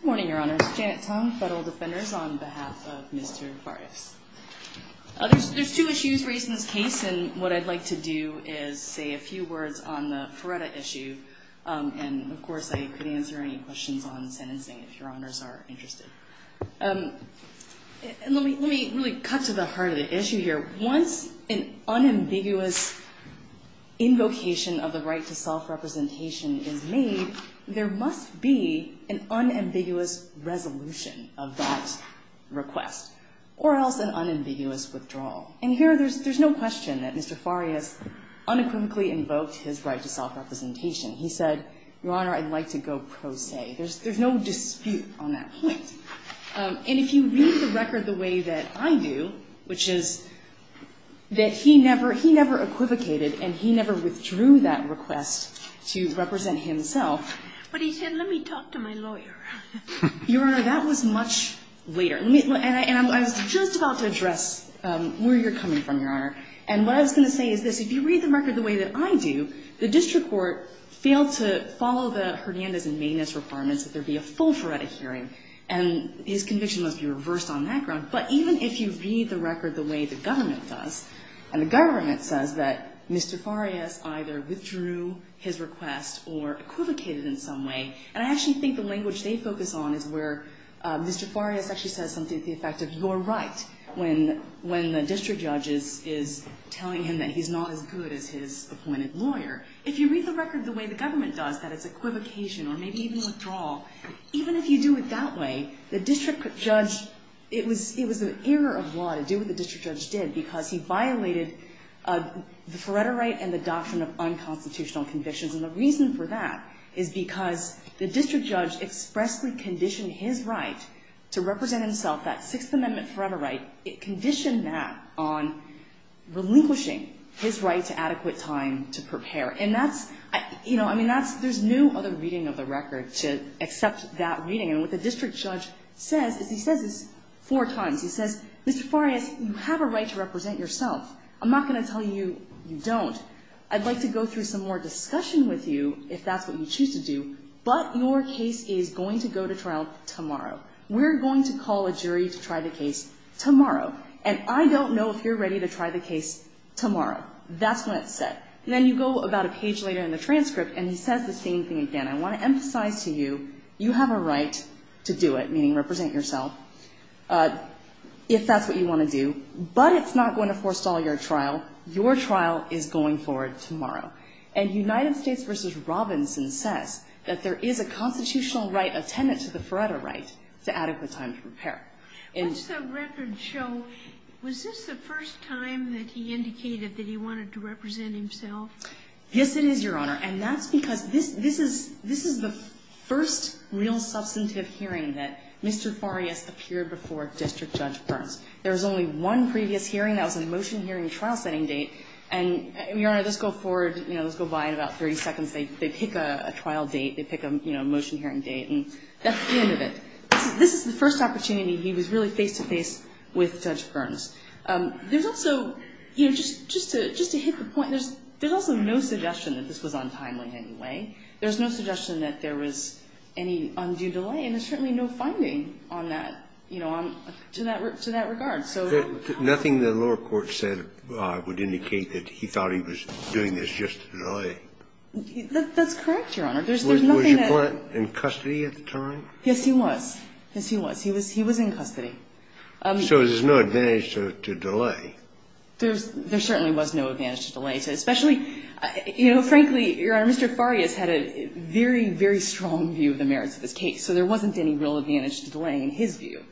Good morning, Your Honors. Janet Tong, Federal Defenders, on behalf of Mr. Farias. There's two issues raised in this case, and what I'd like to do is say a few words on the Ferreta issue. And, of course, I could answer any questions on sentencing if Your Honors are interested. And let me really cut to the heart of the issue here. Once an unambiguous invocation of the right to self-representation is made, there must be an unambiguous resolution of that request, or else an unambiguous withdrawal. And here, there's no question that Mr. Farias unequivocally invoked his right to self-representation. He said, Your Honor, I'd like to go pro se. There's no dispute on that point. And if you read the record the way that I do, which is that he never, he never equivocated and he never withdrew that request to represent himself. But he said, let me talk to my lawyer. Your Honor, that was much later. And I was just about to address where you're coming from, Your Honor. And what I was going to say is this. If you read the record the way that I do, the district court failed to follow the Hernandez and Mena's requirements that there be a full-threaded hearing. And his conviction must be reversed on that ground. But even if you read the record the way the government does, and the government says that Mr. Farias either withdrew his request or equivocated in some way, and I actually think the language they focus on is where Mr. Farias actually says something to the effect of, you're right when the district judge is telling him that he's not as good as his appointed lawyer. If you read the record the way the government does, that it's equivocation or maybe even withdrawal, even if you do it that way, the district judge, it was an error of law to do what the district judge did because he violated the forever right and the doctrine of unconstitutional convictions. And the reason for that is because the district judge expressly conditioned his right to represent himself, that Sixth Amendment forever right, it conditioned that on relinquishing his right to adequate time to prepare. And that's, you know, I mean, there's no other reading of the record to accept that reading. And what the district judge says is he says this four times. He says, Mr. Farias, you have a right to represent yourself. I'm not going to tell you you don't. I'd like to go through some more discussion with you if that's what you choose to do. But your case is going to go to trial tomorrow. We're going to call a jury to try the case tomorrow. And I don't know if you're ready to try the case tomorrow. That's what it said. And then you go about a page later in the transcript and he says the same thing again. I want to emphasize to you, you have a right to do it, meaning represent yourself, if that's what you want to do. But it's not going to forestall your trial. Your trial is going forward tomorrow. And United States v. Robinson says that there is a constitutional right, a tenet to the forever right, to adequate time to prepare. In the record show, was this the first time that he indicated that he wanted to represent himself? Yes, it is, Your Honor. And that's because this is the first real substantive hearing that Mr. Farias appeared before District Judge Burns. There was only one previous hearing. That was a motion hearing trial setting date. And, Your Honor, let's go forward, let's go by in about 30 seconds. They pick a trial date. They pick a motion hearing date. And that's the end of it. This is the first opportunity he was really face-to-face with Judge Burns. There's also, just to hit the point, there's also no suggestion that this was untimely in any way. There's no suggestion that there was any undue delay. And there's certainly no finding on that, to that regard. Nothing the lower court said would indicate that he thought he was doing this just to delay. That's correct, Your Honor. Was your client in custody at the time? Yes, he was. Yes, he was. He was in custody. So there's no advantage to delay. There certainly was no advantage to delay. Especially, you know, frankly, Your Honor, Mr. Farias had a very, very strong view of the merits of this case. So there wasn't any real advantage to delay in his view.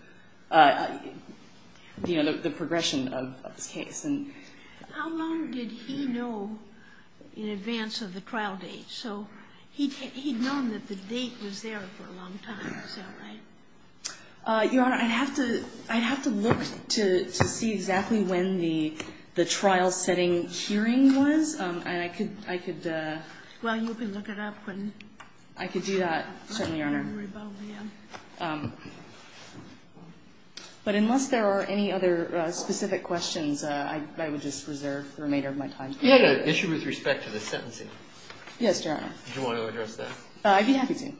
You know, the progression of this case. How long did he know in advance of the trial date? So he'd known that the date was there for a long time. Is that right? Your Honor, I'd have to look to see exactly when the trial-setting hearing was. And I could... Well, you can look it up when... I could do that, certainly, Your Honor. But unless there are any other specific questions, I would just reserve the remainder of my time. You had an issue with respect to the sentencing. Yes, Your Honor. Do you want to address that? I'd be happy to.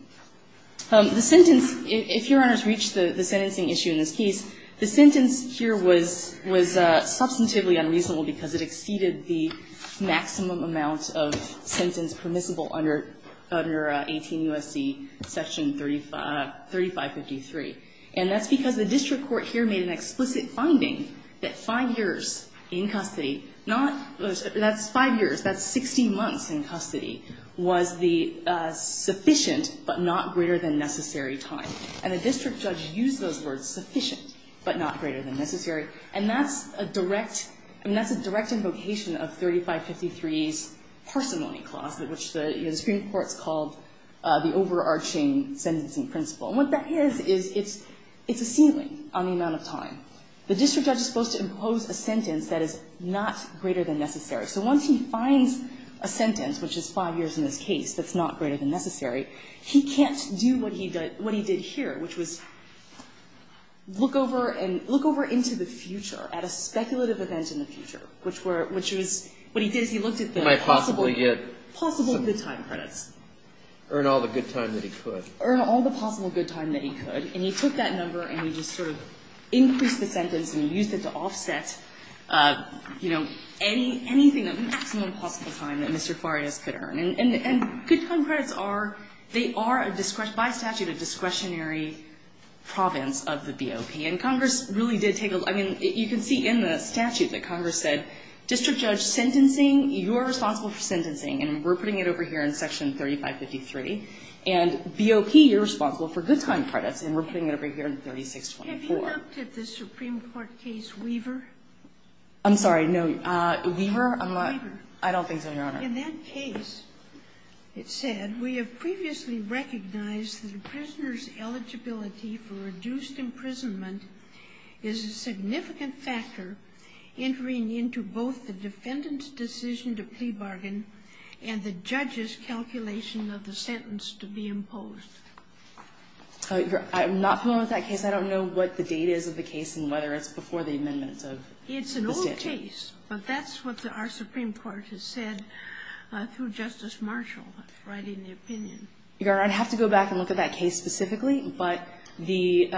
The sentence, if Your Honor's reached the sentencing issue in this case, the sentence here was substantively unreasonable because it exceeded the maximum amount of sentence that was permissible under 18 U.S.C. section 3553. And that's because the district court here made an explicit finding that 5 years in custody, not... That's 5 years. That's 60 months in custody was the sufficient but not greater than necessary time. And the district judge used those words, sufficient but not greater than necessary. And that's a direct... Supreme Court's called the overarching sentencing principle. And what that is, is it's a ceiling on the amount of time. The district judge is supposed to impose a sentence that is not greater than necessary. So once he finds a sentence, which is 5 years in this case, that's not greater than necessary, he can't do what he did here, which was look over and look over into the future at a speculative event in the future, which was... Possible good time credits. Earn all the good time that he could. Earn all the possible good time that he could. And he took that number and he just sort of increased the sentence and used it to offset, you know, anything, the maximum possible time that Mr. Flores could earn. And good time credits are, they are by statute a discretionary province of the BOP. And Congress really did take a, I mean, you can see in the statute that Congress said district judge sentencing, you are responsible for sentencing. And we're putting it over here in section 3553. And BOP, you're responsible for good time credits. And we're putting it over here in 3624. Have you looked at the Supreme Court case Weaver? I'm sorry, no. Weaver? Weaver. I don't think so, Your Honor. In that case, it said, we have previously recognized that a prisoner's eligibility for reduced imprisonment is a significant factor entering into both the defendant's decision to plea bargain and the judge's calculation of the sentence to be imposed. I'm not familiar with that case. I don't know what the date is of the case and whether it's before the amendment of the statute. It's an old case, but that's what our Supreme Court has said through Justice Marshall writing the opinion. Your Honor, I'd have to go back and look at that case specifically. But the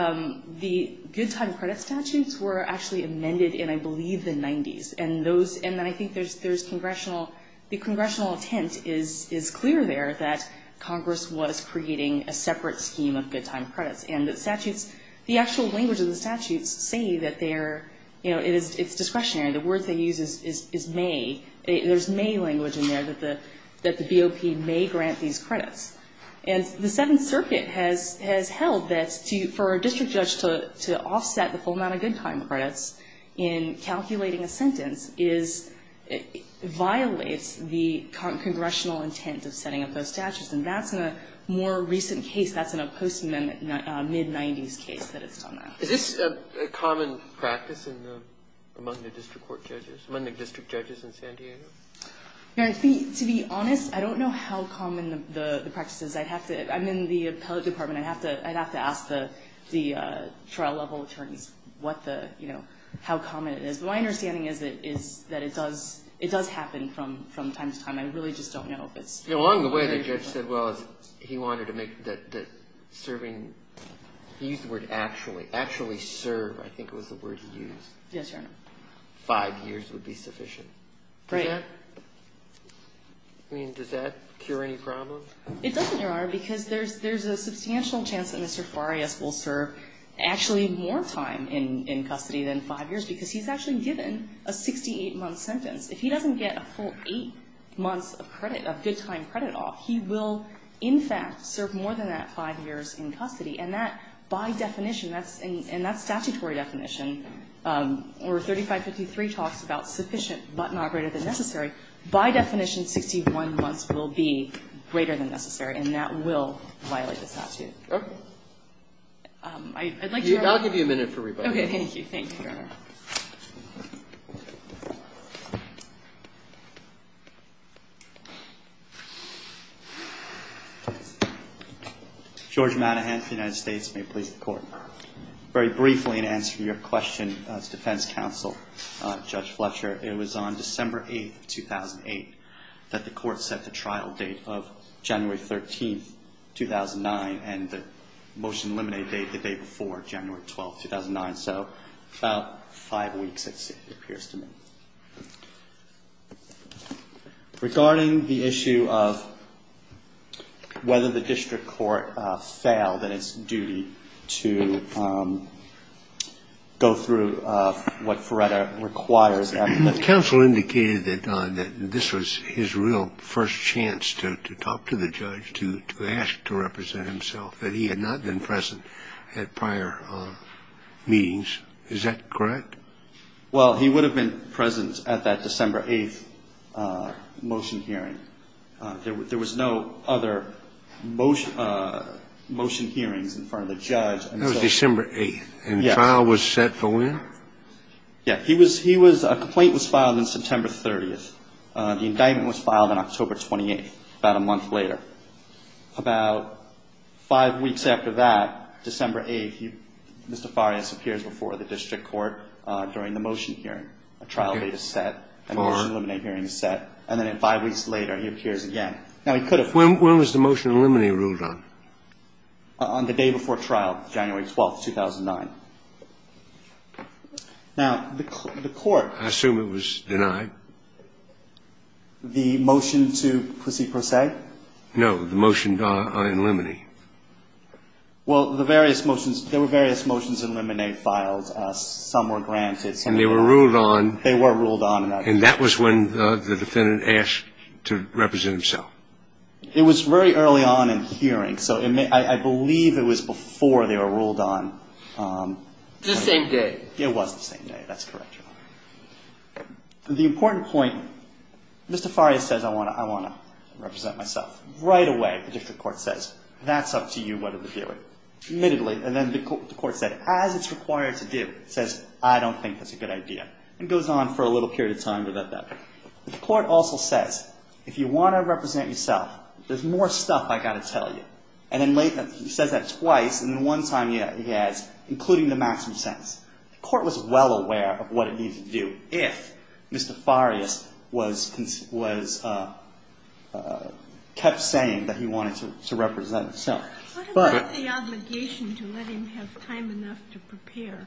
good time credit statutes were actually amended in, I believe, the 90s. And then I think the congressional intent is clear there that Congress was creating a separate scheme of good time credits. And the actual language of the statutes say that it's discretionary. The word they use is may. There's may language in there that the BOP may grant these credits. And the Seventh Circuit has held that for a district judge to offset the full amount of good time credits in calculating a sentence violates the congressional intent of setting up those statutes. And that's in a more recent case. That's in a post-mid-90s case that it's done that. Is this a common practice among the district court judges, among the district judges in San Diego? Your Honor, to be honest, I don't know how common the practice is. I'm in the appellate department. I'd have to ask the trial-level attorneys what the, you know, how common it is. But my understanding is that it does happen from time to time. You know, along the way the judge said, well, he wanted to make the serving, he used the word actually. Actually serve, I think was the word he used. Yes, Your Honor. Five years would be sufficient. Right. Does that, I mean, does that cure any problems? It doesn't, Your Honor, because there's a substantial chance that Mr. Farias will serve actually more time in custody than five years because he's actually given a 68-month sentence. If he doesn't get a full eight months of credit, of good-time credit off, he will in fact serve more than that five years in custody. And that, by definition, and that's statutory definition, or 3553 talks about sufficient but not greater than necessary. By definition, 61 months will be greater than necessary, and that will violate the statute. Okay. I'd like to remember. I'll give you a minute for rebuttal. Thank you. Thank you, Your Honor. George Madahan, United States. May it please the Court. Very briefly in answer to your question as defense counsel, Judge Fletcher, it was on December 8, 2008, that the Court set the trial date of January 13, 2009, and the motion eliminate date the day before, January 12, 2009. So about five weeks, it appears to me. Regarding the issue of whether the district court failed in its duty to go through what Feretta requires. Counsel indicated that this was his real first chance to talk to the judge, to ask to the judge what the motion means. Is that correct? Well, he would have been present at that December 8 motion hearing. There was no other motion hearings in front of the judge. That was December 8. Yes. And the trial was set for when? Yes. He was, a complaint was filed on September 30. The indictment was filed on October 28, about a month later. About five weeks after that, December 8, Mr. Farias appears before the district court during the motion hearing. A trial date is set. A motion eliminate hearing is set. And then five weeks later, he appears again. Now, he could have. When was the motion eliminate ruled on? On the day before trial, January 12, 2009. Now, the Court. I assume it was denied. The motion to pussy pro se? No. The motion to eliminate. Well, the various motions, there were various motions to eliminate files. Some were granted. And they were ruled on. They were ruled on. And that was when the defendant asked to represent himself. It was very early on in the hearing. So I believe it was before they were ruled on. The same day. It was the same day. That's correct, Your Honor. The important point. Mr. Farias says, I want to represent myself. Right away, the district court says, that's up to you whether to do it. Admittedly. And then the court said, as it's required to do. It says, I don't think that's a good idea. And it goes on for a little period of time. The court also says, if you want to represent yourself, there's more stuff I've got to tell you. And then he says that twice. And then one time he adds, including the maximum sentence. The court was well aware of what it needed to do. If Mr. Farias was kept saying that he wanted to represent himself. What about the obligation to let him have time enough to prepare?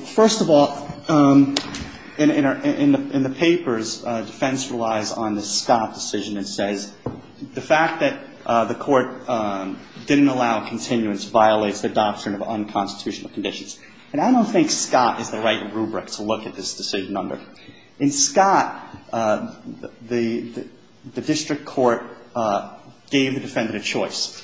First of all, in the papers, defense relies on the Scott decision. It says, the fact that the court didn't allow continuance violates the unconstitutional conditions. And I don't think Scott is the right rubric to look at this decision under. In Scott, the district court gave the defendant a choice.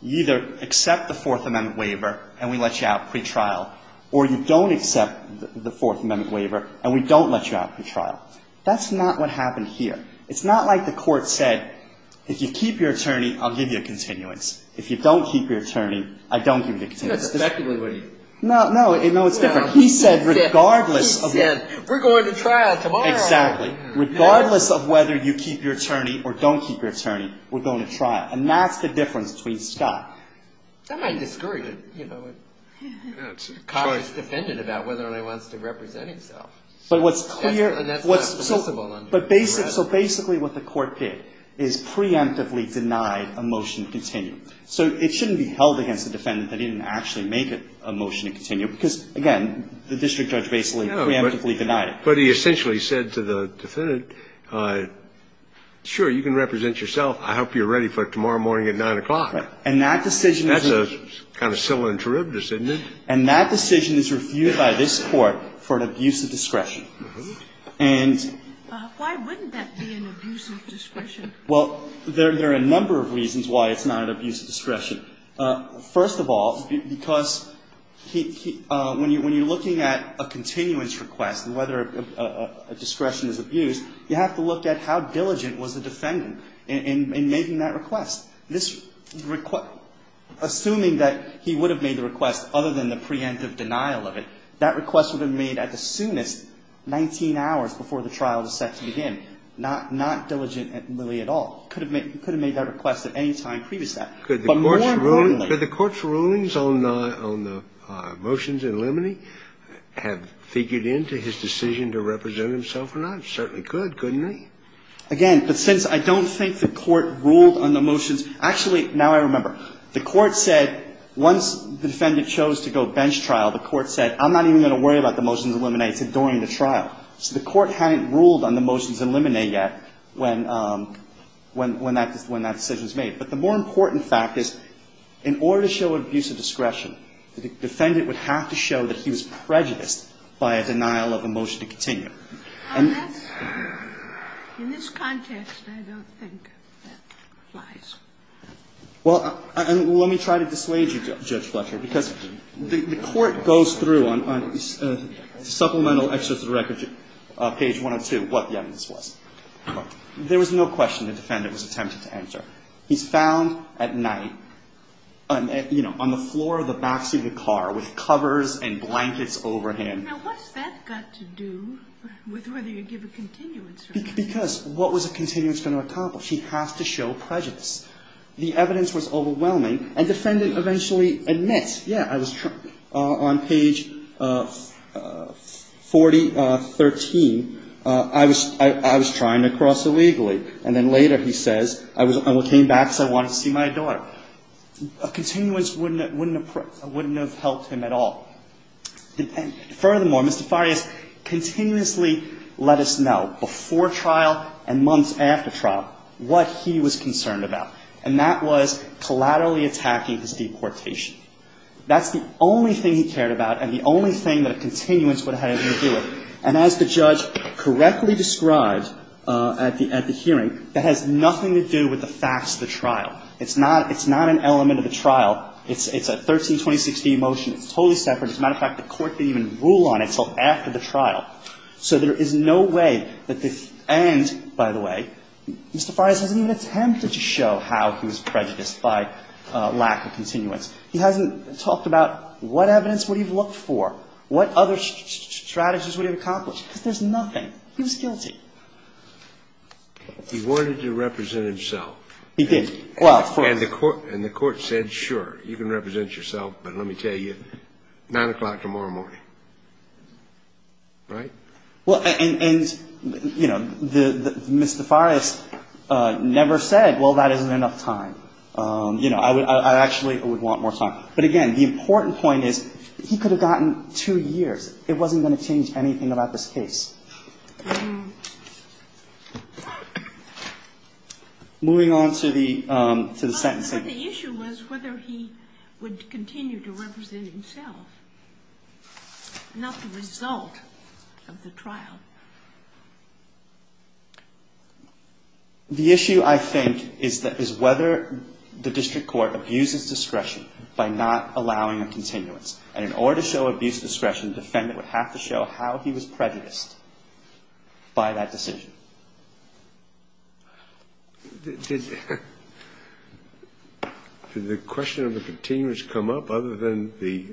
You either accept the Fourth Amendment waiver, and we let you out pretrial. Or you don't accept the Fourth Amendment waiver, and we don't let you out pretrial. That's not what happened here. It's not like the court said, if you keep your attorney, I'll give you a continuance. No, it's different. He said, regardless of whether you keep your attorney or don't keep your attorney, we're going to trial. And that's the difference between Scott. That might discourage a cautious defendant about whether or not he wants to represent himself. So basically what the court did is preemptively denied a motion to continue. So it shouldn't be held against a defendant that didn't actually make a motion to continue. Because, again, the district judge basically preemptively denied it. No, but he essentially said to the defendant, sure, you can represent yourself. I hope you're ready for it tomorrow morning at 9 o'clock. Right. And that decision is... That's a kind of silly and terrible decision, isn't it? And that decision is reviewed by this Court for an abuse of discretion. And... Why wouldn't that be an abuse of discretion? Well, there are a number of reasons why it's not an abuse of discretion. First of all, because when you're looking at a continuance request and whether a discretion is abused, you have to look at how diligent was the defendant in making that request. Assuming that he would have made the request other than the preemptive denial of it, that request would have been made at the soonest, 19 hours before the trial was set to begin. And that would have been made not diligently at all. He could have made that request at any time previous to that. But more importantly... Could the Court's rulings on the motions in limine have figured into his decision to represent himself or not? It certainly could, couldn't it? Again, but since I don't think the Court ruled on the motions... Actually, now I remember. The Court said once the defendant chose to go bench trial, the Court said, I'm not even going to worry about the motions in limine. It's adoring the trial. So the Court hadn't ruled on the motions in limine yet when that decision was made. But the more important fact is, in order to show abuse of discretion, the defendant would have to show that he was prejudiced by a denial of a motion to continue. And that's... In this context, I don't think that applies. Well, let me try to dissuade you, Judge Fletcher, because the Court goes through on supplemental exercise of the record, page 102, what the evidence was. There was no question the defendant was attempting to enter. He's found at night, you know, on the floor of the backseat of the car with covers and blankets over him. Now, what's that got to do with whether you give a continuance? Because what was a continuance going to accomplish? He has to show prejudice. The evidence was overwhelming, and the defendant eventually admits, yeah, on page 40... 13, I was trying to cross illegally. And then later he says, I came back because I wanted to see my daughter. A continuance wouldn't have helped him at all. Furthermore, Mr. Farias continuously let us know before trial and months after trial what he was concerned about, and that was collaterally attacking his deportation. That's the only thing he cared about, and the only thing that a continuance would have had anything to do with. And as the judge correctly described at the hearing, that has nothing to do with the facts of the trial. It's not an element of the trial. It's a 13-2016 motion. It's totally separate. As a matter of fact, the Court didn't even rule on it until after the trial. So there is no way that the end, by the way, Mr. Farias hasn't even attempted to show how he was prejudiced by lack of continuance. He hasn't talked about what evidence would he have looked for, what other strategies would he have accomplished, because there's nothing. He was guilty. He wanted to represent himself. He did. Well, of course. And the Court said, sure, you can represent yourself, but let me tell you, 9 o'clock tomorrow morning. Right? Well, and, you know, Mr. Farias never said, well, that isn't enough time. You know, I actually would want more time. But, again, the important point is he could have gotten two years. It wasn't going to change anything about this case. Moving on to the sentencing. But the issue was whether he would continue to represent himself, not the result of the trial. The issue, I think, is whether the district court abuses discretion by not allowing a continuance. And in order to show abuse of discretion, the defendant would have to show how he was prejudiced by that decision. Did the question of the continuance come up other than the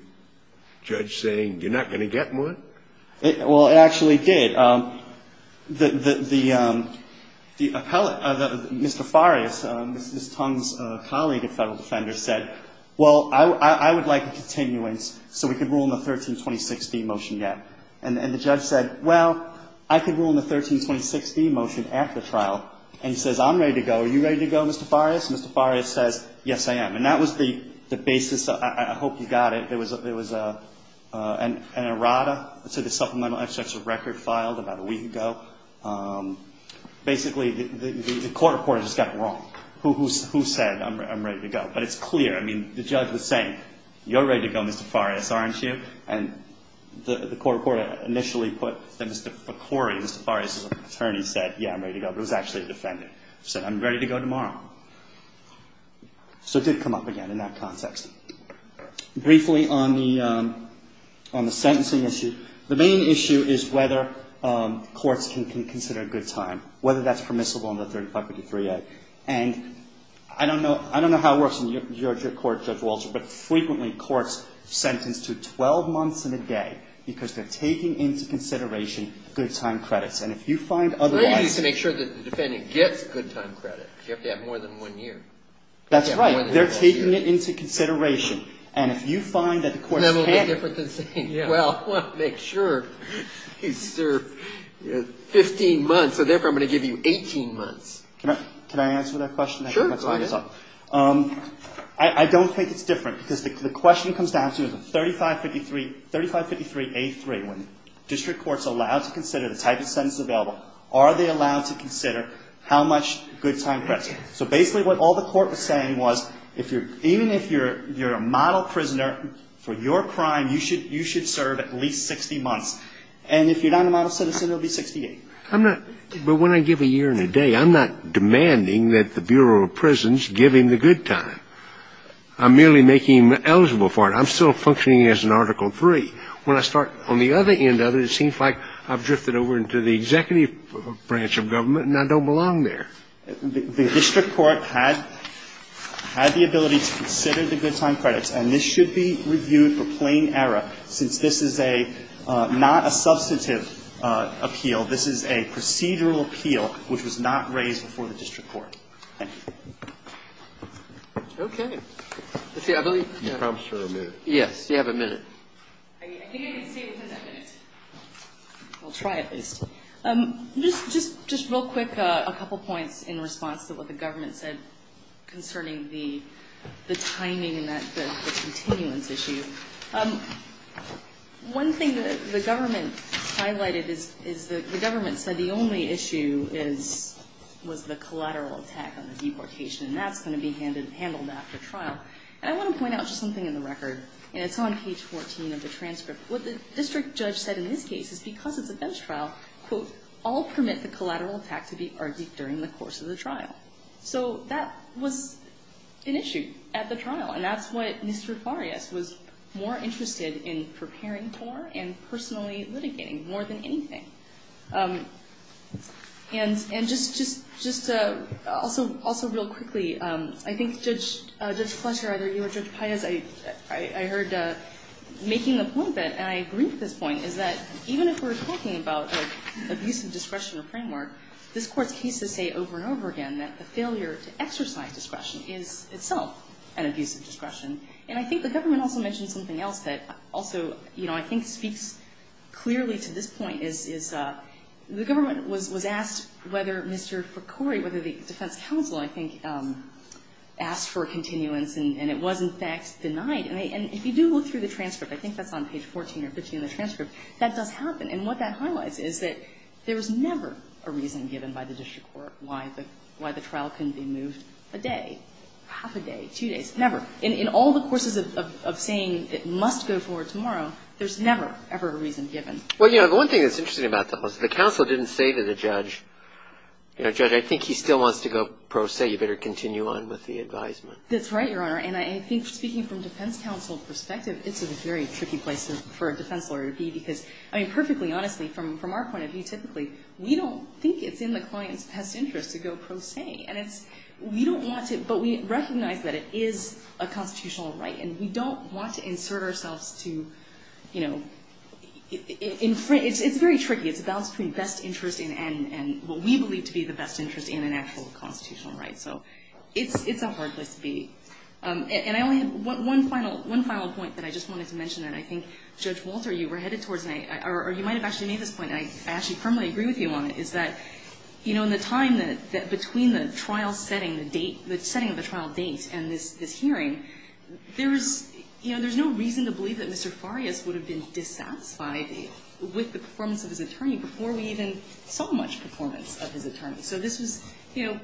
judge saying, you're not going to get more? Well, it actually did. Mr. Farias, Ms. Tong's colleague and federal defender, said, well, I would like a continuance so we could rule in the 1326D motion yet. And the judge said, well, I could rule in the 1326D motion after trial. And he says, I'm ready to go. Are you ready to go, Mr. Farias? Mr. Farias says, yes, I am. And that was the basis. I hope you got it. There was an errata to the supplemental extracts of record filed about a week ago. Basically, the court reporter just got it wrong. Who said, I'm ready to go? But it's clear. I mean, the judge was saying, you're ready to go, Mr. Farias, aren't you? And the court reporter initially put that Mr. Ficori, Mr. Farias's attorney, said, yeah, I'm ready to go. But it was actually the defendant who said, I'm ready to go tomorrow. So it did come up again in that context. Briefly on the sentencing issue, the main issue is whether courts can consider a good time, whether that's permissible under 3553A. And I don't know how it works in your court, Judge Walsh, but frequently courts sentence to 12 months and a day because they're taking into consideration good time credits. And if you find otherwise Well, you need to make sure that the defendant gets good time credit. You have to have more than one year. That's right. They're taking it into consideration. And if you find that the courts can't That'll be different than saying, well, I want to make sure he's served 15 months, so therefore I'm going to give you 18 months. Can I answer that question? Sure, go ahead. I don't think it's different because the question comes down to 3553A.3. When district courts are allowed to consider the type of sentence available, are they allowed to consider how much good time credit? So basically what all the court was saying was even if you're a model prisoner for your crime, you should serve at least 60 months. And if you're not a model citizen, it will be 68. But when I give a year and a day, I'm not demanding that the Bureau of Prisons give him the good time. I'm merely making him eligible for it. I'm still functioning as an Article III. When I start on the other end of it, it seems like I've drifted over into the executive branch of government and I don't belong there. The district court had the ability to consider the good time credits, and this should be reviewed for plain error since this is not a substantive appeal. This is a procedural appeal which was not raised before the district court. Thank you. Okay. I believe you have a minute. Yes, you have a minute. I can't even stay within that minute. I'll try at least. Just real quick, a couple points in response to what the government said concerning the timing and the continuance issue. One thing that the government highlighted is the government said the only issue was the collateral attack on the deportation, and that's going to be handled after trial. And I want to point out just something in the record, and it's on page 14 of the transcript. What the district judge said in this case is because it's a bench trial, quote, all permit the collateral attack to be argued during the course of the trial. So that was an issue at the trial, and that's what Mr. Farias was more interested in preparing for and personally litigating, more than anything. And just also real quickly, I think Judge Fletcher, either you or Judge Paez, I heard making the point that, and I agree with this point, is that even if we're talking about, like, abusive discretion or framework, this Court's cases say over and over again that the failure to exercise discretion is itself an abusive discretion. And I think the government also mentioned something else that also, you know, I think speaks clearly to this point, is the government was asked whether Mr. Ficori, whether the defense counsel, I think, asked for continuance, and it was, in fact, denied. And if you do look through the transcript, I think that's on page 14 or 15 of the transcript, that does happen. And what that highlights is that there was never a reason given by the district court why the trial couldn't be moved a day, half a day, two days, never. In all the courses of saying it must go forward tomorrow, there's never, ever a reason given. Well, you know, the one thing that's interesting about that was the counsel didn't say to the judge, you know, Judge, I think he still wants to go pro se. You better continue on with the advisement. That's right, Your Honor. And I think speaking from defense counsel perspective, it's a very tricky place for a defense lawyer to be because, I mean, perfectly honestly, from our point of view typically, we don't think it's in the client's best interest to go pro se. And it's, we don't want to, but we recognize that it is a constitutional right. And we don't want to insert ourselves to, you know, it's very tricky. It's a balance between best interest and what we believe to be the best interest in an actual constitutional right. So it's a hard place to be. And I only have one final point that I just wanted to mention that I think, Judge Walter, you were headed towards, or you might have actually made this point, and I actually firmly agree with you on it, is that, you know, in the time that between the trial setting, the date, the setting of the trial date and this hearing, there's no reason to believe that Mr. Farias would have been dissatisfied with the performance of his attorney before we even saw much performance of his attorney. So this was, you know,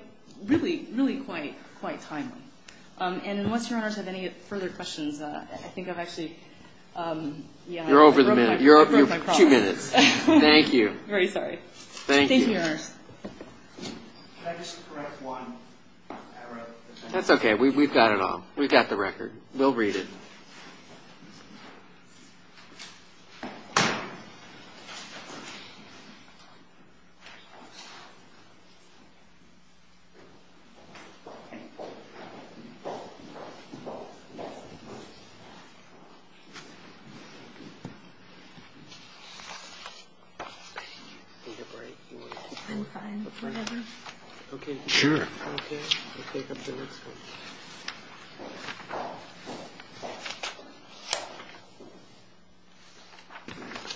really, really quite timely. And unless your honors have any further questions, I think I've actually, yeah. You're over the minute. I broke my promise. Two minutes. Very sorry. Thank you. Thank you, your honors. Can I just correct one error? That's okay. We've got it all. We've got the record. We'll read it. Okay? I'm fine. Whatever. Okay, sure. Okay? We'll take up the next one.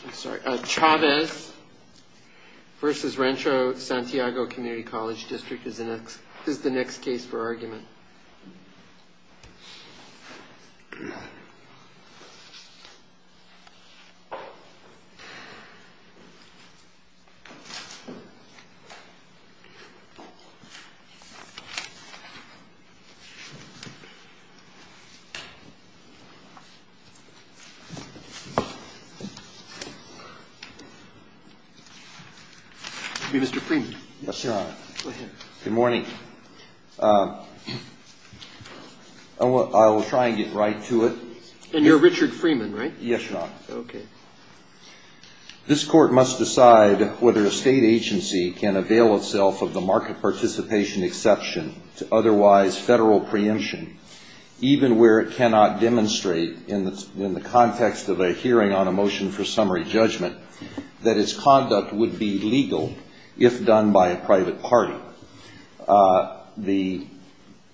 I'm sorry. Chavez versus Rancho Santiago Community College District is the next case for argument. It will be Mr. Freeman. Yes, Your Honor. Go ahead. Good morning. I will try and get right to it. And you're Richard Freeman, right? Yes, Your Honor. Okay. This Court must decide whether a State agency can avail itself of the market participation exception to otherwise Federal preemption, even where it cannot demonstrate, in the context of a hearing on a motion for summary judgment, that its conduct would be legal if done by a private party. The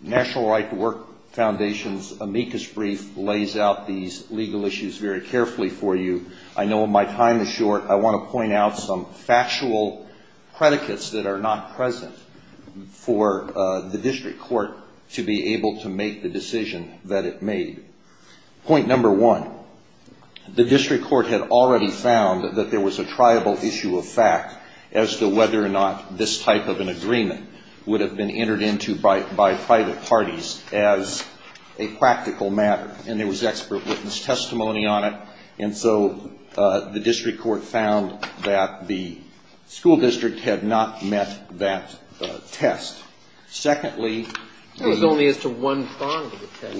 National Right to Work Foundation's amicus brief lays out these legal issues very carefully for you. I know my time is short. I want to point out some factual predicates that are not present for the district court to be able to make the decision that it made. Point number one, the district court had already found that there was a triable issue of fact as to whether or not this type of an agreement would have been entered into by private parties as a practical matter. And there was expert witness testimony on it. And so the district court found that the school district had not met that test. Secondly, the — That was only as to one prong of the test.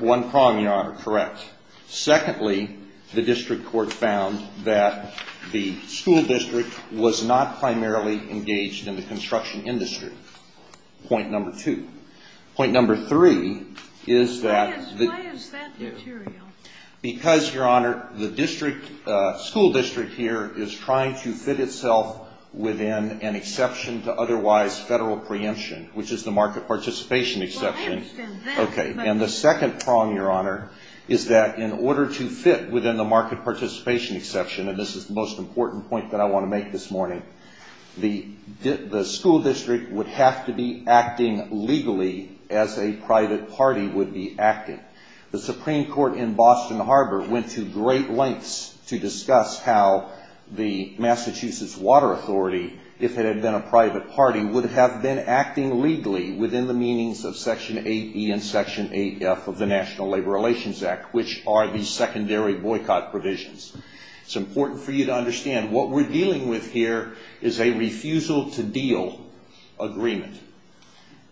One prong, Your Honor. Correct. Secondly, the district court found that the school district was not primarily engaged in the construction industry. Point number two. Point number three is that — Why is that material? Because, Your Honor, the school district here is trying to fit itself within an exception to otherwise federal preemption, which is the market participation exception. Well, I understand that, but — Okay. And the second prong, Your Honor, is that in order to fit within the market participation exception, and this is the most important point that I want to make this morning, the school district would have to be acting legally as a private party would be acting. The Supreme Court in Boston Harbor went to great lengths to discuss how the Massachusetts Water Authority, if it had been a private party, would have been acting legally within the meanings of Section 8E and Section 8F of the National Labor Relations Act, which are the secondary boycott provisions. It's important for you to understand what we're dealing with here is a refusal-to-deal agreement.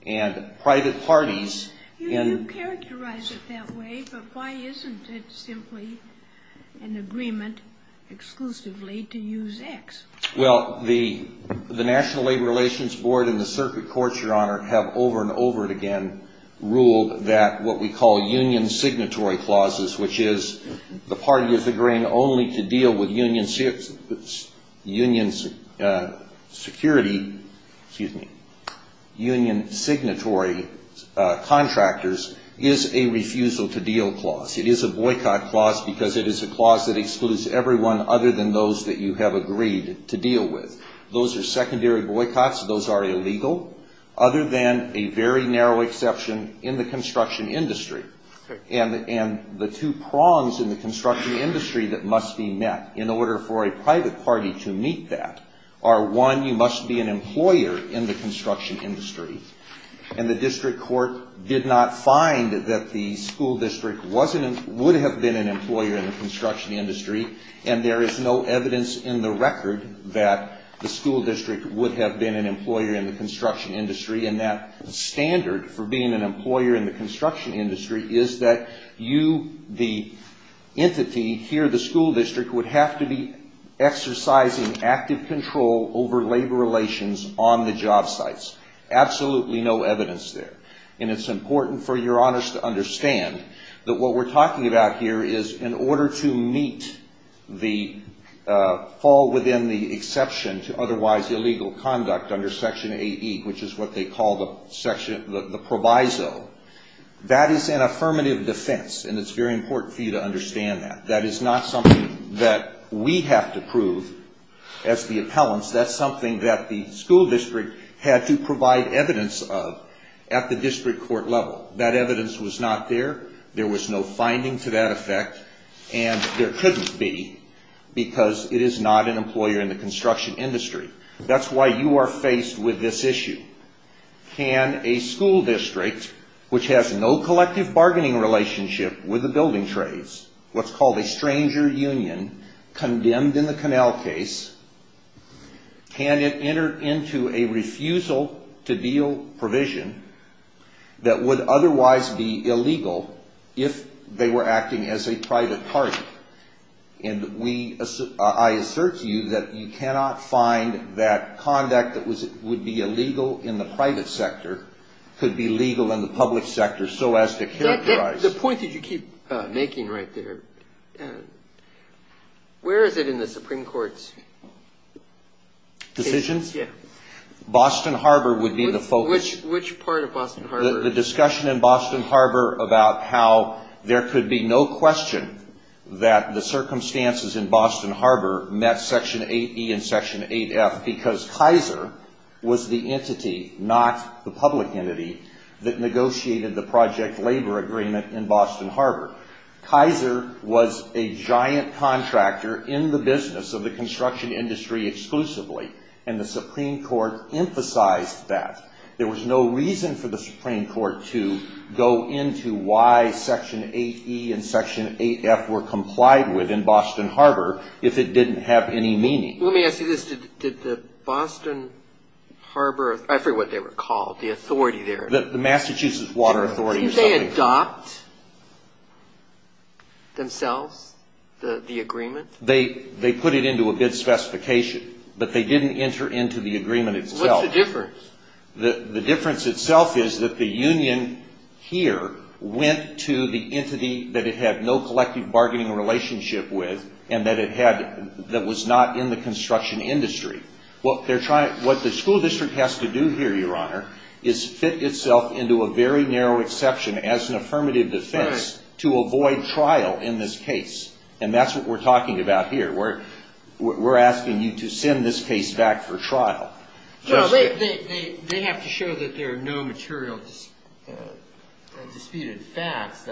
And private parties — You characterize it that way, but why isn't it simply an agreement exclusively to use X? Well, the National Labor Relations Board and the circuit courts, Your Honor, have over and over again ruled that what we call union signatory clauses, which is the party is agreeing only to deal with union security — excuse me — union signatory contractors, is a refusal-to-deal clause. It is a boycott clause because it is a clause that excludes everyone other than those that you have agreed to deal with. Those are secondary boycotts. Those are illegal, other than a very narrow exception in the construction industry. And the two prongs in the construction industry that must be met in order for a private party to meet that are, one, you must be an employer in the construction industry. And the district court did not find that the school district was — would have been an employer in the construction industry. And there is no evidence in the record that the school district would have been an employer in the construction industry. And that standard for being an employer in the construction industry is that you, the entity here, the school district, would have to be exercising active control over labor relations on the job sites. Absolutely no evidence there. And it's important for your honors to understand that what we're talking about here is in order to meet the — which is what they call the section — the proviso, that is an affirmative defense. And it's very important for you to understand that. That is not something that we have to prove as the appellants. That's something that the school district had to provide evidence of at the district court level. That evidence was not there. There was no finding to that effect. And there couldn't be because it is not an employer in the construction industry. That's why you are faced with this issue. Can a school district, which has no collective bargaining relationship with the building trades, what's called a stranger union, condemned in the Connell case, can it enter into a refusal-to-deal provision that would otherwise be illegal if they were acting as a private party? And we — I assert to you that you cannot find that conduct that would be illegal in the private sector could be legal in the public sector so as to characterize — The point that you keep making right there, where is it in the Supreme Court's — Decisions? Yeah. Boston Harbor would be the focus. Which part of Boston Harbor? The discussion in Boston Harbor about how there could be no question that the circumstances in Boston Harbor met Section 8E and Section 8F because Kaiser was the entity, not the public entity, that negotiated the project labor agreement in Boston Harbor. Kaiser was a giant contractor in the business of the construction industry exclusively, and the Supreme Court emphasized that. There was no reason for the Supreme Court to go into why Section 8E and Section 8F were complied with in Boston Harbor if it didn't have any meaning. Let me ask you this. Did the Boston Harbor — I forget what they were called, the authority there. The Massachusetts Water Authority or something. Did they adopt themselves the agreement? They put it into a bid specification, but they didn't enter into the agreement itself. What's the difference? The difference itself is that the union here went to the entity that it had no collective bargaining relationship with and that was not in the construction industry. What the school district has to do here, Your Honor, is fit itself into a very narrow exception as an affirmative defense to avoid trial in this case, and that's what we're talking about here. We're asking you to send this case back for trial. They have to show that there are no material disputed facts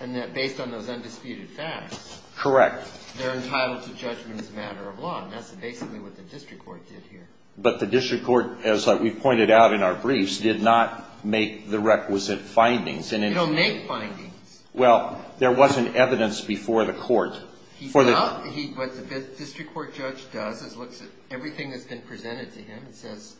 and that based on those undisputed facts they're entitled to judgment as a matter of law, and that's basically what the district court did here. But the district court, as we pointed out in our briefs, did not make the requisite findings. It'll make findings. Well, there wasn't evidence before the court. What the district court judge does is looks at everything that's been presented to him and says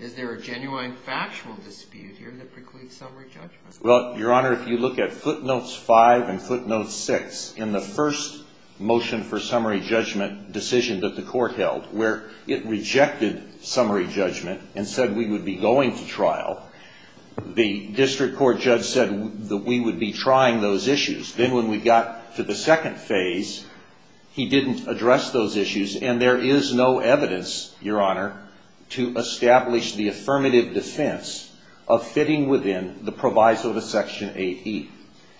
is there a genuine factual dispute here that precludes summary judgment? Well, Your Honor, if you look at footnotes 5 and footnotes 6 in the first motion for summary judgment decision that the court held where it rejected summary judgment and said we would be going to trial, the district court judge said that we would be trying those issues. Then when we got to the second phase, he didn't address those issues, and there is no evidence, Your Honor, to establish the affirmative defense of fitting within the proviso of Section 8E.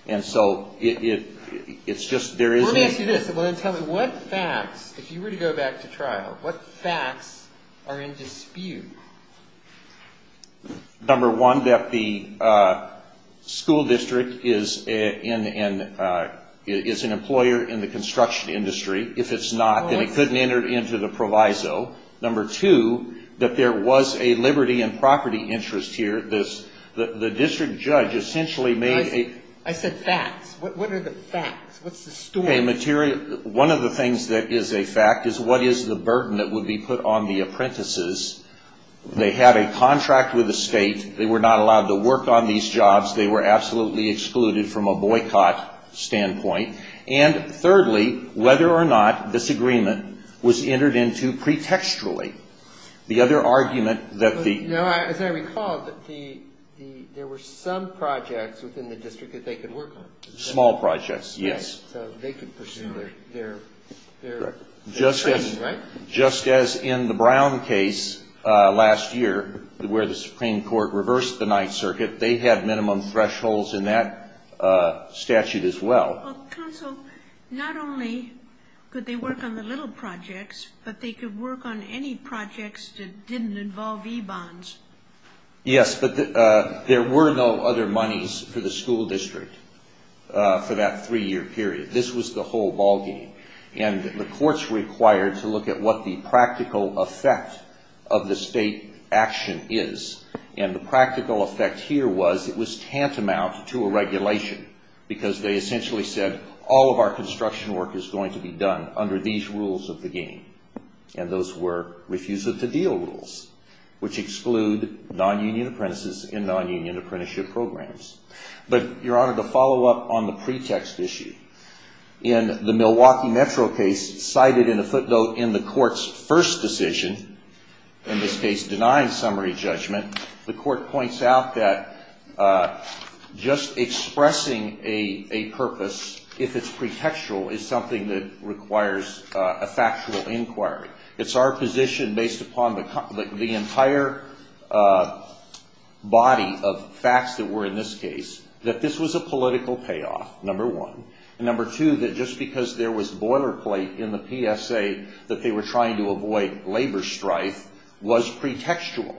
And so it's just there is no evidence. Let me ask you this, and then tell me what facts, if you were to go back to trial, what facts are in dispute? Number one, that the school district is an employer in the construction industry. If it's not, then it couldn't enter into the proviso. Number two, that there was a liberty and property interest here. The district judge essentially made a... I said facts. What are the facts? What's the story? One of the things that is a fact is what is the burden that would be put on the apprentices They had a contract with the state. They were not allowed to work on these jobs. They were absolutely excluded from a boycott standpoint. And thirdly, whether or not this agreement was entered into pretextually. The other argument that the... As I recall, there were some projects within the district that they could work on. Small projects, yes. So they could pursue their training, right? Just as in the Brown case last year, where the Supreme Court reversed the Ninth Circuit, they had minimum thresholds in that statute as well. Counsel, not only could they work on the little projects, but they could work on any projects that didn't involve e-bonds. Yes, but there were no other monies for the school district for that three-year period. This was the whole ballgame. And the courts were required to look at what the practical effect of the state action is. And the practical effect here was it was tantamount to a regulation, because they essentially said all of our construction work is going to be done under these rules of the game. And those were refusal-to-deal rules, which exclude non-union apprentices and non-union apprenticeship programs. But, Your Honor, to follow up on the pretext issue, in the Milwaukee Metro case cited in the footnote in the court's first decision, in this case denying summary judgment, the court points out that just expressing a purpose, if it's pretextual, is something that requires a factual inquiry. It's our position, based upon the entire body of facts that were in this case, that this was a political payoff, number one. And number two, that just because there was boilerplate in the PSA that they were trying to avoid labor strife was pretextual.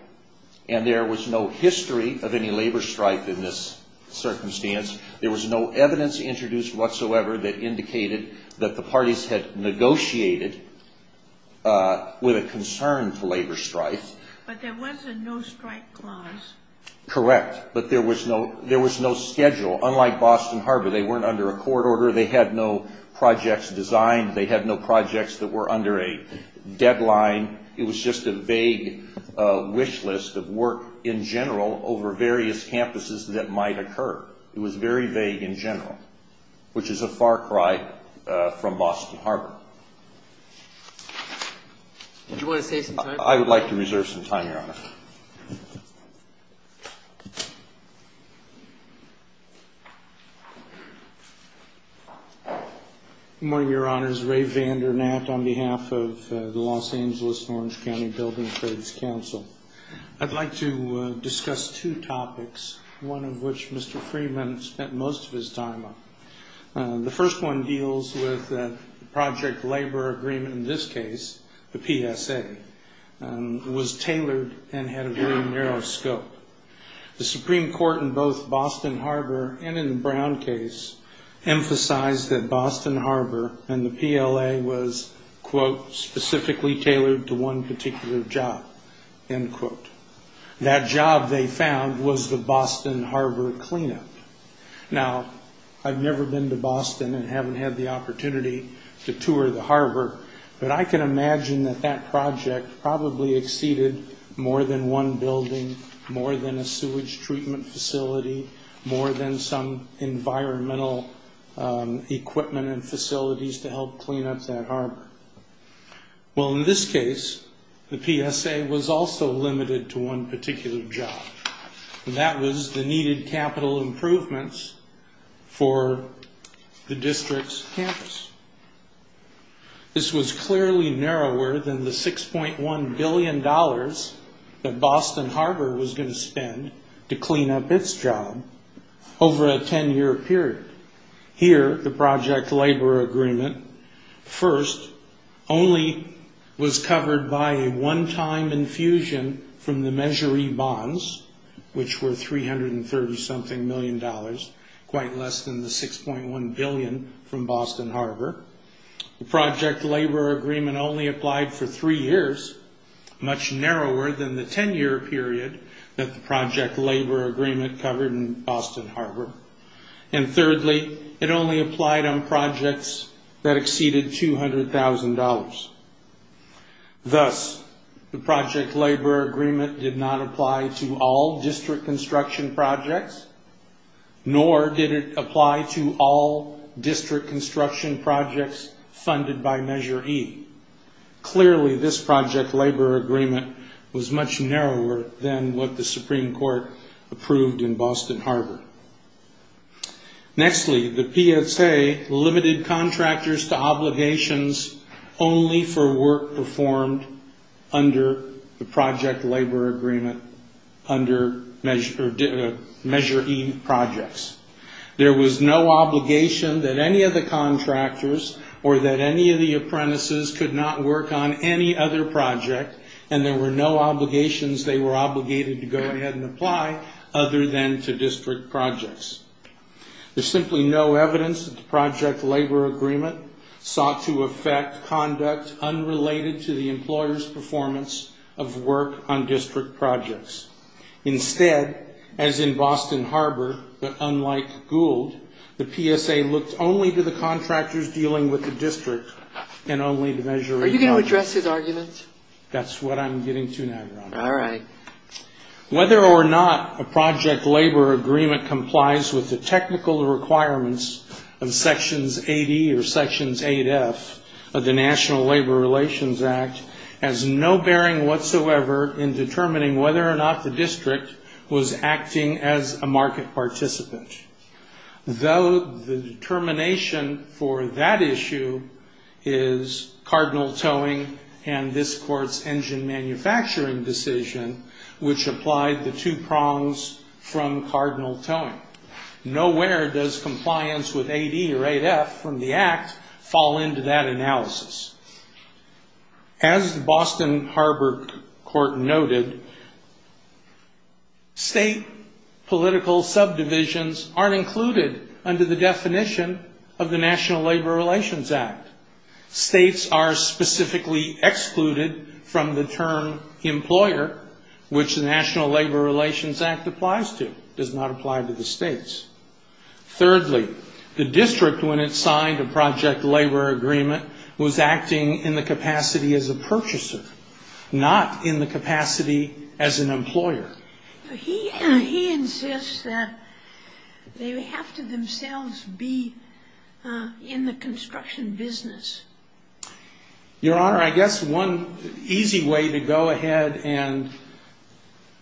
And there was no history of any labor strife in this circumstance. There was no evidence introduced whatsoever that indicated that the parties had negotiated with a concern for labor strife. But there was a no-strike clause. Correct. But there was no schedule. Unlike Boston Harbor, they weren't under a court order. They had no projects designed. They had no projects that were under a deadline. It was just a vague wish list of work in general over various campuses that might occur. It was very vague in general, which is a far cry from Boston Harbor. Do you want to save some time? I would like to reserve some time, Your Honor. Thank you. Good morning, Your Honors. Ray Vandernat on behalf of the Los Angeles and Orange County Building Trades Council. I'd like to discuss two topics, one of which Mr. Freeman spent most of his time on. The first one deals with the project labor agreement in this case, the PSA. It was tailored and had a very narrow scope. The Supreme Court in both Boston Harbor and in the Brown case emphasized that Boston Harbor and the PLA was, quote, specifically tailored to one particular job, end quote. That job, they found, was the Boston Harbor cleanup. Now, I've never been to Boston and haven't had the opportunity to tour the harbor, but I can imagine that that project probably exceeded more than one building, more than a sewage treatment facility, more than some environmental equipment and facilities to help clean up that harbor. Well, in this case, the PSA was also limited to one particular job, and that was the needed capital improvements for the district's campus. This was clearly narrower than the $6.1 billion that Boston Harbor was going to spend to clean up its job over a 10-year period. Here, the project labor agreement first only was covered by a one-time infusion from the measuree bonds, which were $330-something million, quite less than the $6.1 billion from Boston Harbor. The project labor agreement only applied for three years, much narrower than the 10-year period that the project labor agreement covered in Boston Harbor. And thirdly, it only applied on projects that exceeded $200,000. Thus, the project labor agreement did not apply to all district construction projects, nor did it apply to all district construction projects funded by Measure E. Clearly, this project labor agreement was much narrower than what the Supreme Court approved in Boston Harbor. Nextly, the PSA limited contractors to obligations only for work performed under the project labor agreement under Measure E projects. There was no obligation that any of the contractors or that any of the apprentices could not work on any other project, and there were no obligations they were obligated to go ahead and apply other than to district projects. There's simply no evidence that the project labor agreement sought to affect conduct unrelated to the employer's performance of work on district projects. Instead, as in Boston Harbor, but unlike Gould, the PSA looked only to the contractors dealing with the district and only to Measure E projects. Are you going to address his argument? That's what I'm getting to now, Your Honor. All right. Whether or not a project labor agreement complies with the technical requirements of Sections 8E or Sections 8F of the National Labor Relations Act has no bearing whatsoever in determining whether or not the district was acting as a market participant. Though the determination for that issue is Cardinal Towing and this Court's engine manufacturing decision, which applied the two prongs from Cardinal Towing. Nowhere does compliance with 8E or 8F from the Act fall into that analysis. As the Boston Harbor Court noted, state political subdivisions aren't included under the definition of the National Labor Relations Act. States are specifically excluded from the term employer, which the National Labor Relations Act applies to. It does not apply to the states. Thirdly, the district, when it signed a project labor agreement, was acting in the capacity as a purchaser, not in the capacity as an employer. He insists that they have to themselves be in the construction business. Your Honor, I guess one easy way to go ahead and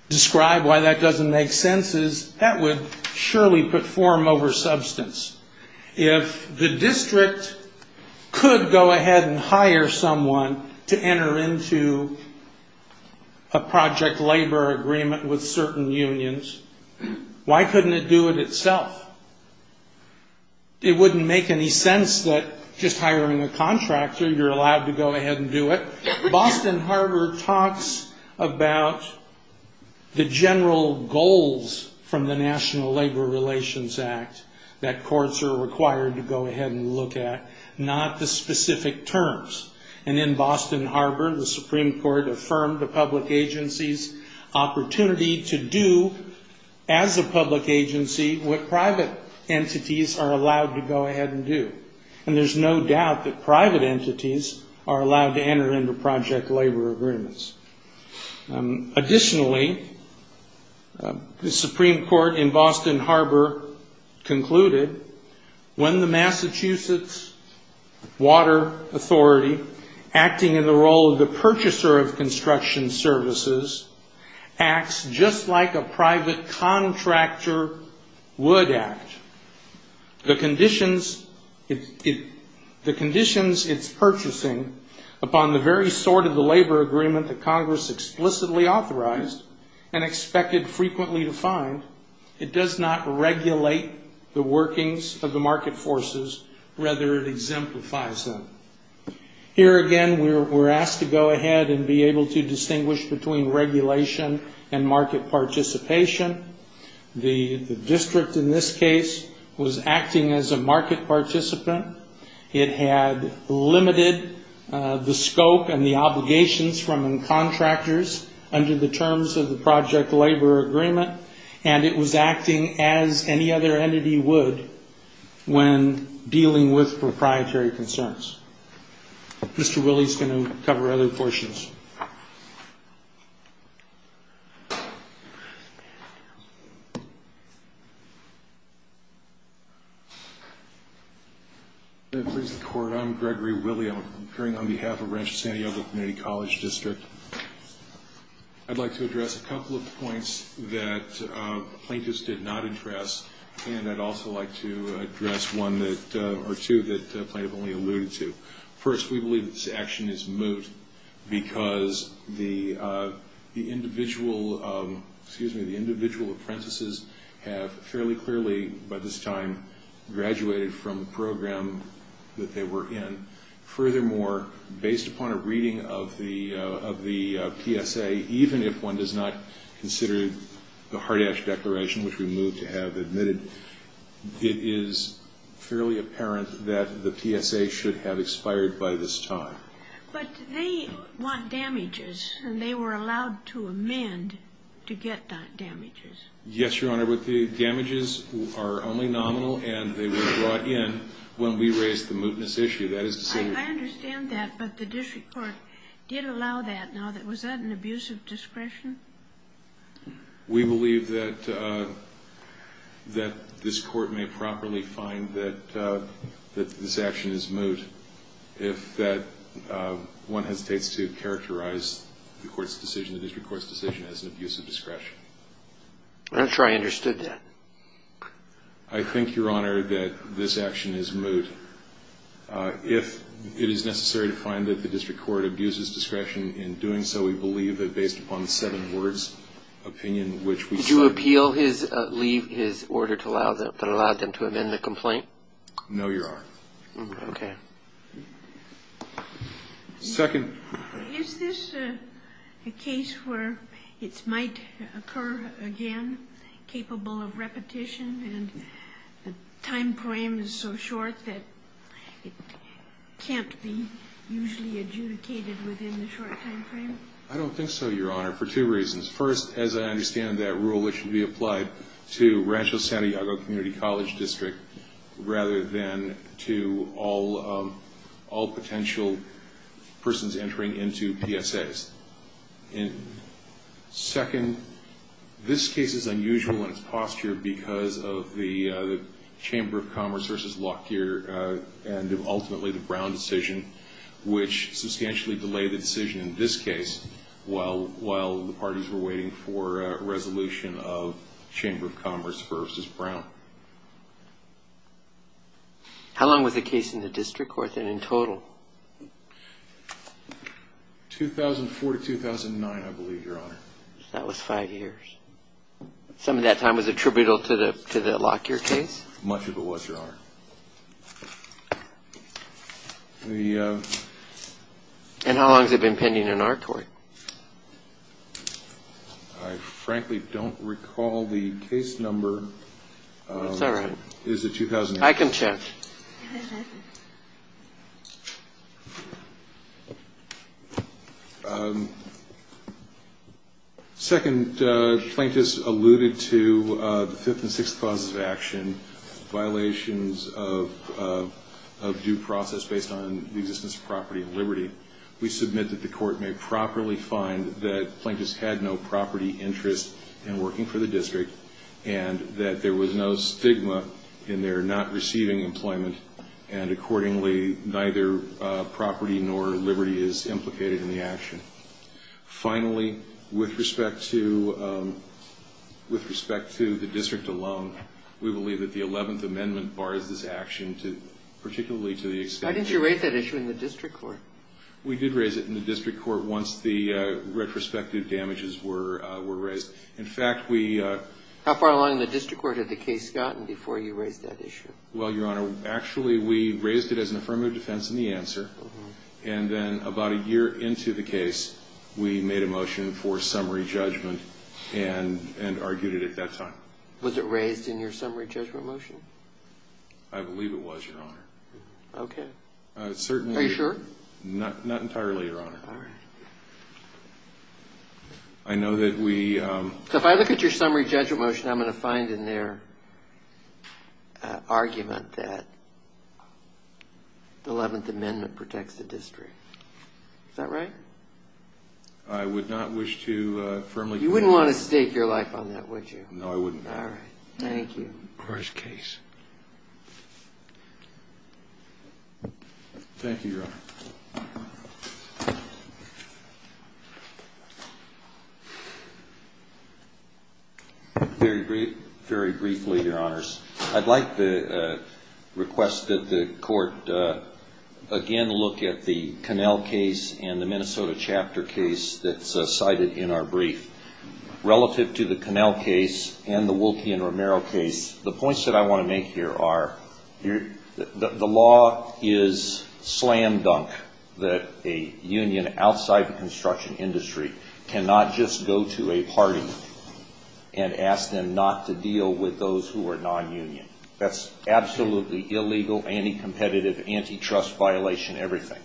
describe why that doesn't make sense is that would surely put form over substance. If the district could go ahead and hire someone to enter into a project labor agreement with certain unions, why couldn't it do it itself? It wouldn't make any sense that just hiring a contractor, you're allowed to go ahead and do it. Boston Harbor talks about the general goals from the National Labor Relations Act that courts are required to go ahead and look at, not the specific terms. In Boston Harbor, the Supreme Court affirmed a public agency's opportunity to do, as a public agency, what private entities are allowed to go ahead and do. There's no doubt that private entities are allowed to enter into project labor agreements. Additionally, the Supreme Court in Boston Harbor concluded, when the Massachusetts Water Authority, acting in the role of the purchaser of construction services, acts just like a private contractor would act, the conditions it's purchasing upon the very sort of the labor agreement that Congress explicitly authorized and expected frequently to find, it does not regulate the workings of the market forces, rather it exemplifies them. Here again, we're asked to go ahead and be able to distinguish between regulation and market participation. The district in this case was acting as a market participant. It had limited the scope and the obligations from the contractors under the terms of the project labor agreement, and it was acting as any other entity would when dealing with proprietary concerns. Mr. Willey is going to cover other portions. I'm Gregory Willey. I'm appearing on behalf of Rancho Santiago Community College District. I'd like to address a couple of points that plaintiffs did not address, and I'd also like to address one or two that the plaintiff only alluded to. First, we believe that this action is moot because the individual apprentices have fairly clearly, by this time, graduated from the program that they were in. Furthermore, based upon a reading of the PSA, even if one does not consider the Hardash Declaration, which we move to have admitted, it is fairly apparent that the PSA should have expired by this time. But they want damages, and they were allowed to amend to get damages. Yes, Your Honor, but the damages are only nominal, and they were brought in when we raised the mootness issue. I understand that, but the district court did allow that. Now, was that an abuse of discretion? We believe that this court may properly find that this action is moot if that one hesitates to characterize the court's decision, the district court's decision, as an abuse of discretion. I'm not sure I understood that. I think, Your Honor, that this action is moot. If it is necessary to find that the district court abuses discretion in doing so, we believe that based upon the seven words, opinion, which we cite. Did you appeal his order that allowed them to amend the complaint? No, Your Honor. Okay. Second. Is this a case where it might occur again, capable of repetition, and the time frame is so short that it can't be usually adjudicated within the short time frame? I don't think so, Your Honor, for two reasons. First, as I understand that rule, it should be applied to Rancho Santiago Community College District rather than to all potential persons entering into PSAs. Second, this case is unusual in its posture because of the Chamber of Commerce versus Lockyer and ultimately the Brown decision, which substantially delayed the decision in this case while the parties were waiting for a resolution of Chamber of Commerce versus Brown. How long was the case in the district court, then, in total? 2004 to 2009, I believe, Your Honor. That was five years. Some of that time was attributable to the Lockyer case? Much of it was, Your Honor. And how long has it been pending in our court? I frankly don't recall the case number. That's all right. Is it 2008? I can check. Second, plaintiffs alluded to the fifth and sixth clauses of action, violations of due process based on the existence of property and liberty. We submit that the court may properly find that plaintiffs had no property interest in working for the district and that there was no stigma in their not receiving employment and, accordingly, neither property nor liberty is implicated in the action. Finally, with respect to the district alone, we believe that the Eleventh Amendment bars this action, particularly to the extent that Why didn't you raise that issue in the district court? We did raise it in the district court once the retrospective damages were raised. In fact, we How far along in the district court had the case gotten before you raised that issue? Well, Your Honor, actually we raised it as an affirmative defense in the answer and then about a year into the case we made a motion for summary judgment and argued it at that time. Was it raised in your summary judgment motion? I believe it was, Your Honor. Okay. Are you sure? Not entirely, Your Honor. All right. I know that we So if I look at your summary judgment motion, I'm going to find in there an argument that the Eleventh Amendment protects the district. Is that right? I would not wish to firmly You wouldn't want to stake your life on that, would you? No, I wouldn't. All right. Thank you. First case. Thank you, Your Honor. Very briefly, Your Honors. I'd like to request that the court again look at the Connell case and the Minnesota chapter case that's cited in our brief. Relative to the Connell case and the Wolke and Romero case, the points that I want to make here are the law is slam dunk. A union outside the construction industry cannot just go to a party and ask them not to deal with those who are nonunion. That's absolutely illegal, anti-competitive, antitrust violation, everything.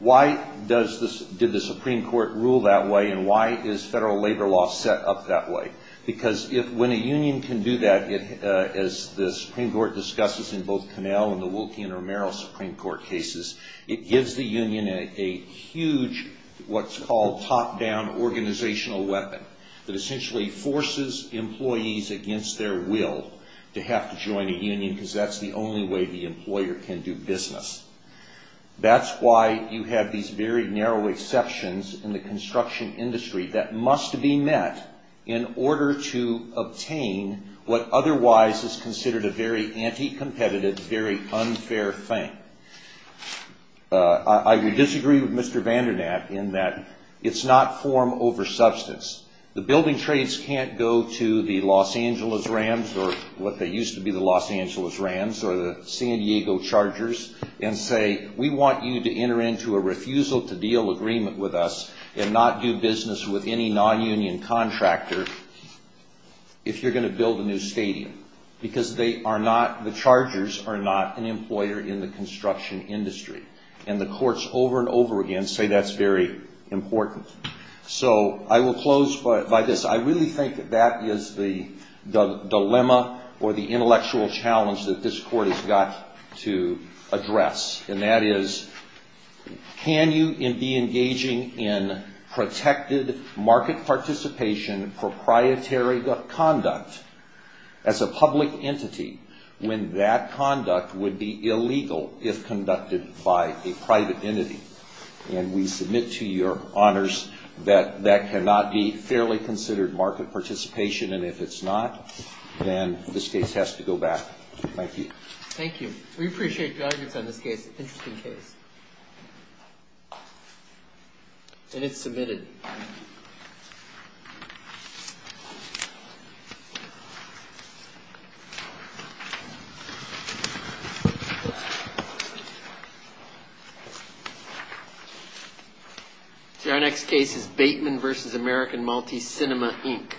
Why did the Supreme Court rule that way and why is federal labor law set up that way? When a union can do that, as the Supreme Court discusses in both Connell and the Wolke and Romero Supreme Court cases, it gives the union a huge what's called top-down organizational weapon that essentially forces employees against their will to have to join a union because that's the only way the employer can do business. That's why you have these very narrow exceptions in the construction industry that must be met in order to obtain what otherwise is considered a very anti-competitive, very unfair thing. I would disagree with Mr. Vandernat in that it's not form over substance. The building trades can't go to the Los Angeles Rams or what used to be the Los Angeles Rams or the San Diego Chargers and say we want you to enter into a refusal to deal agreement with us and not do business with any nonunion contractor if you're going to build a new stadium because the Chargers are not an employer in the construction industry. And the courts over and over again say that's very important. So I will close by this. I really think that that is the dilemma or the intellectual challenge that this court has got to address, and that is can you be engaging in protected market participation proprietary conduct as a public entity when that conduct would be illegal if conducted by a private entity? And we submit to your honors that that cannot be fairly considered market participation, and if it's not, then this case has to go back. Thank you. Thank you. We appreciate your arguments on this case. Interesting case. And it's submitted. Our next case is Bateman v. American Multi-Cinema, Inc.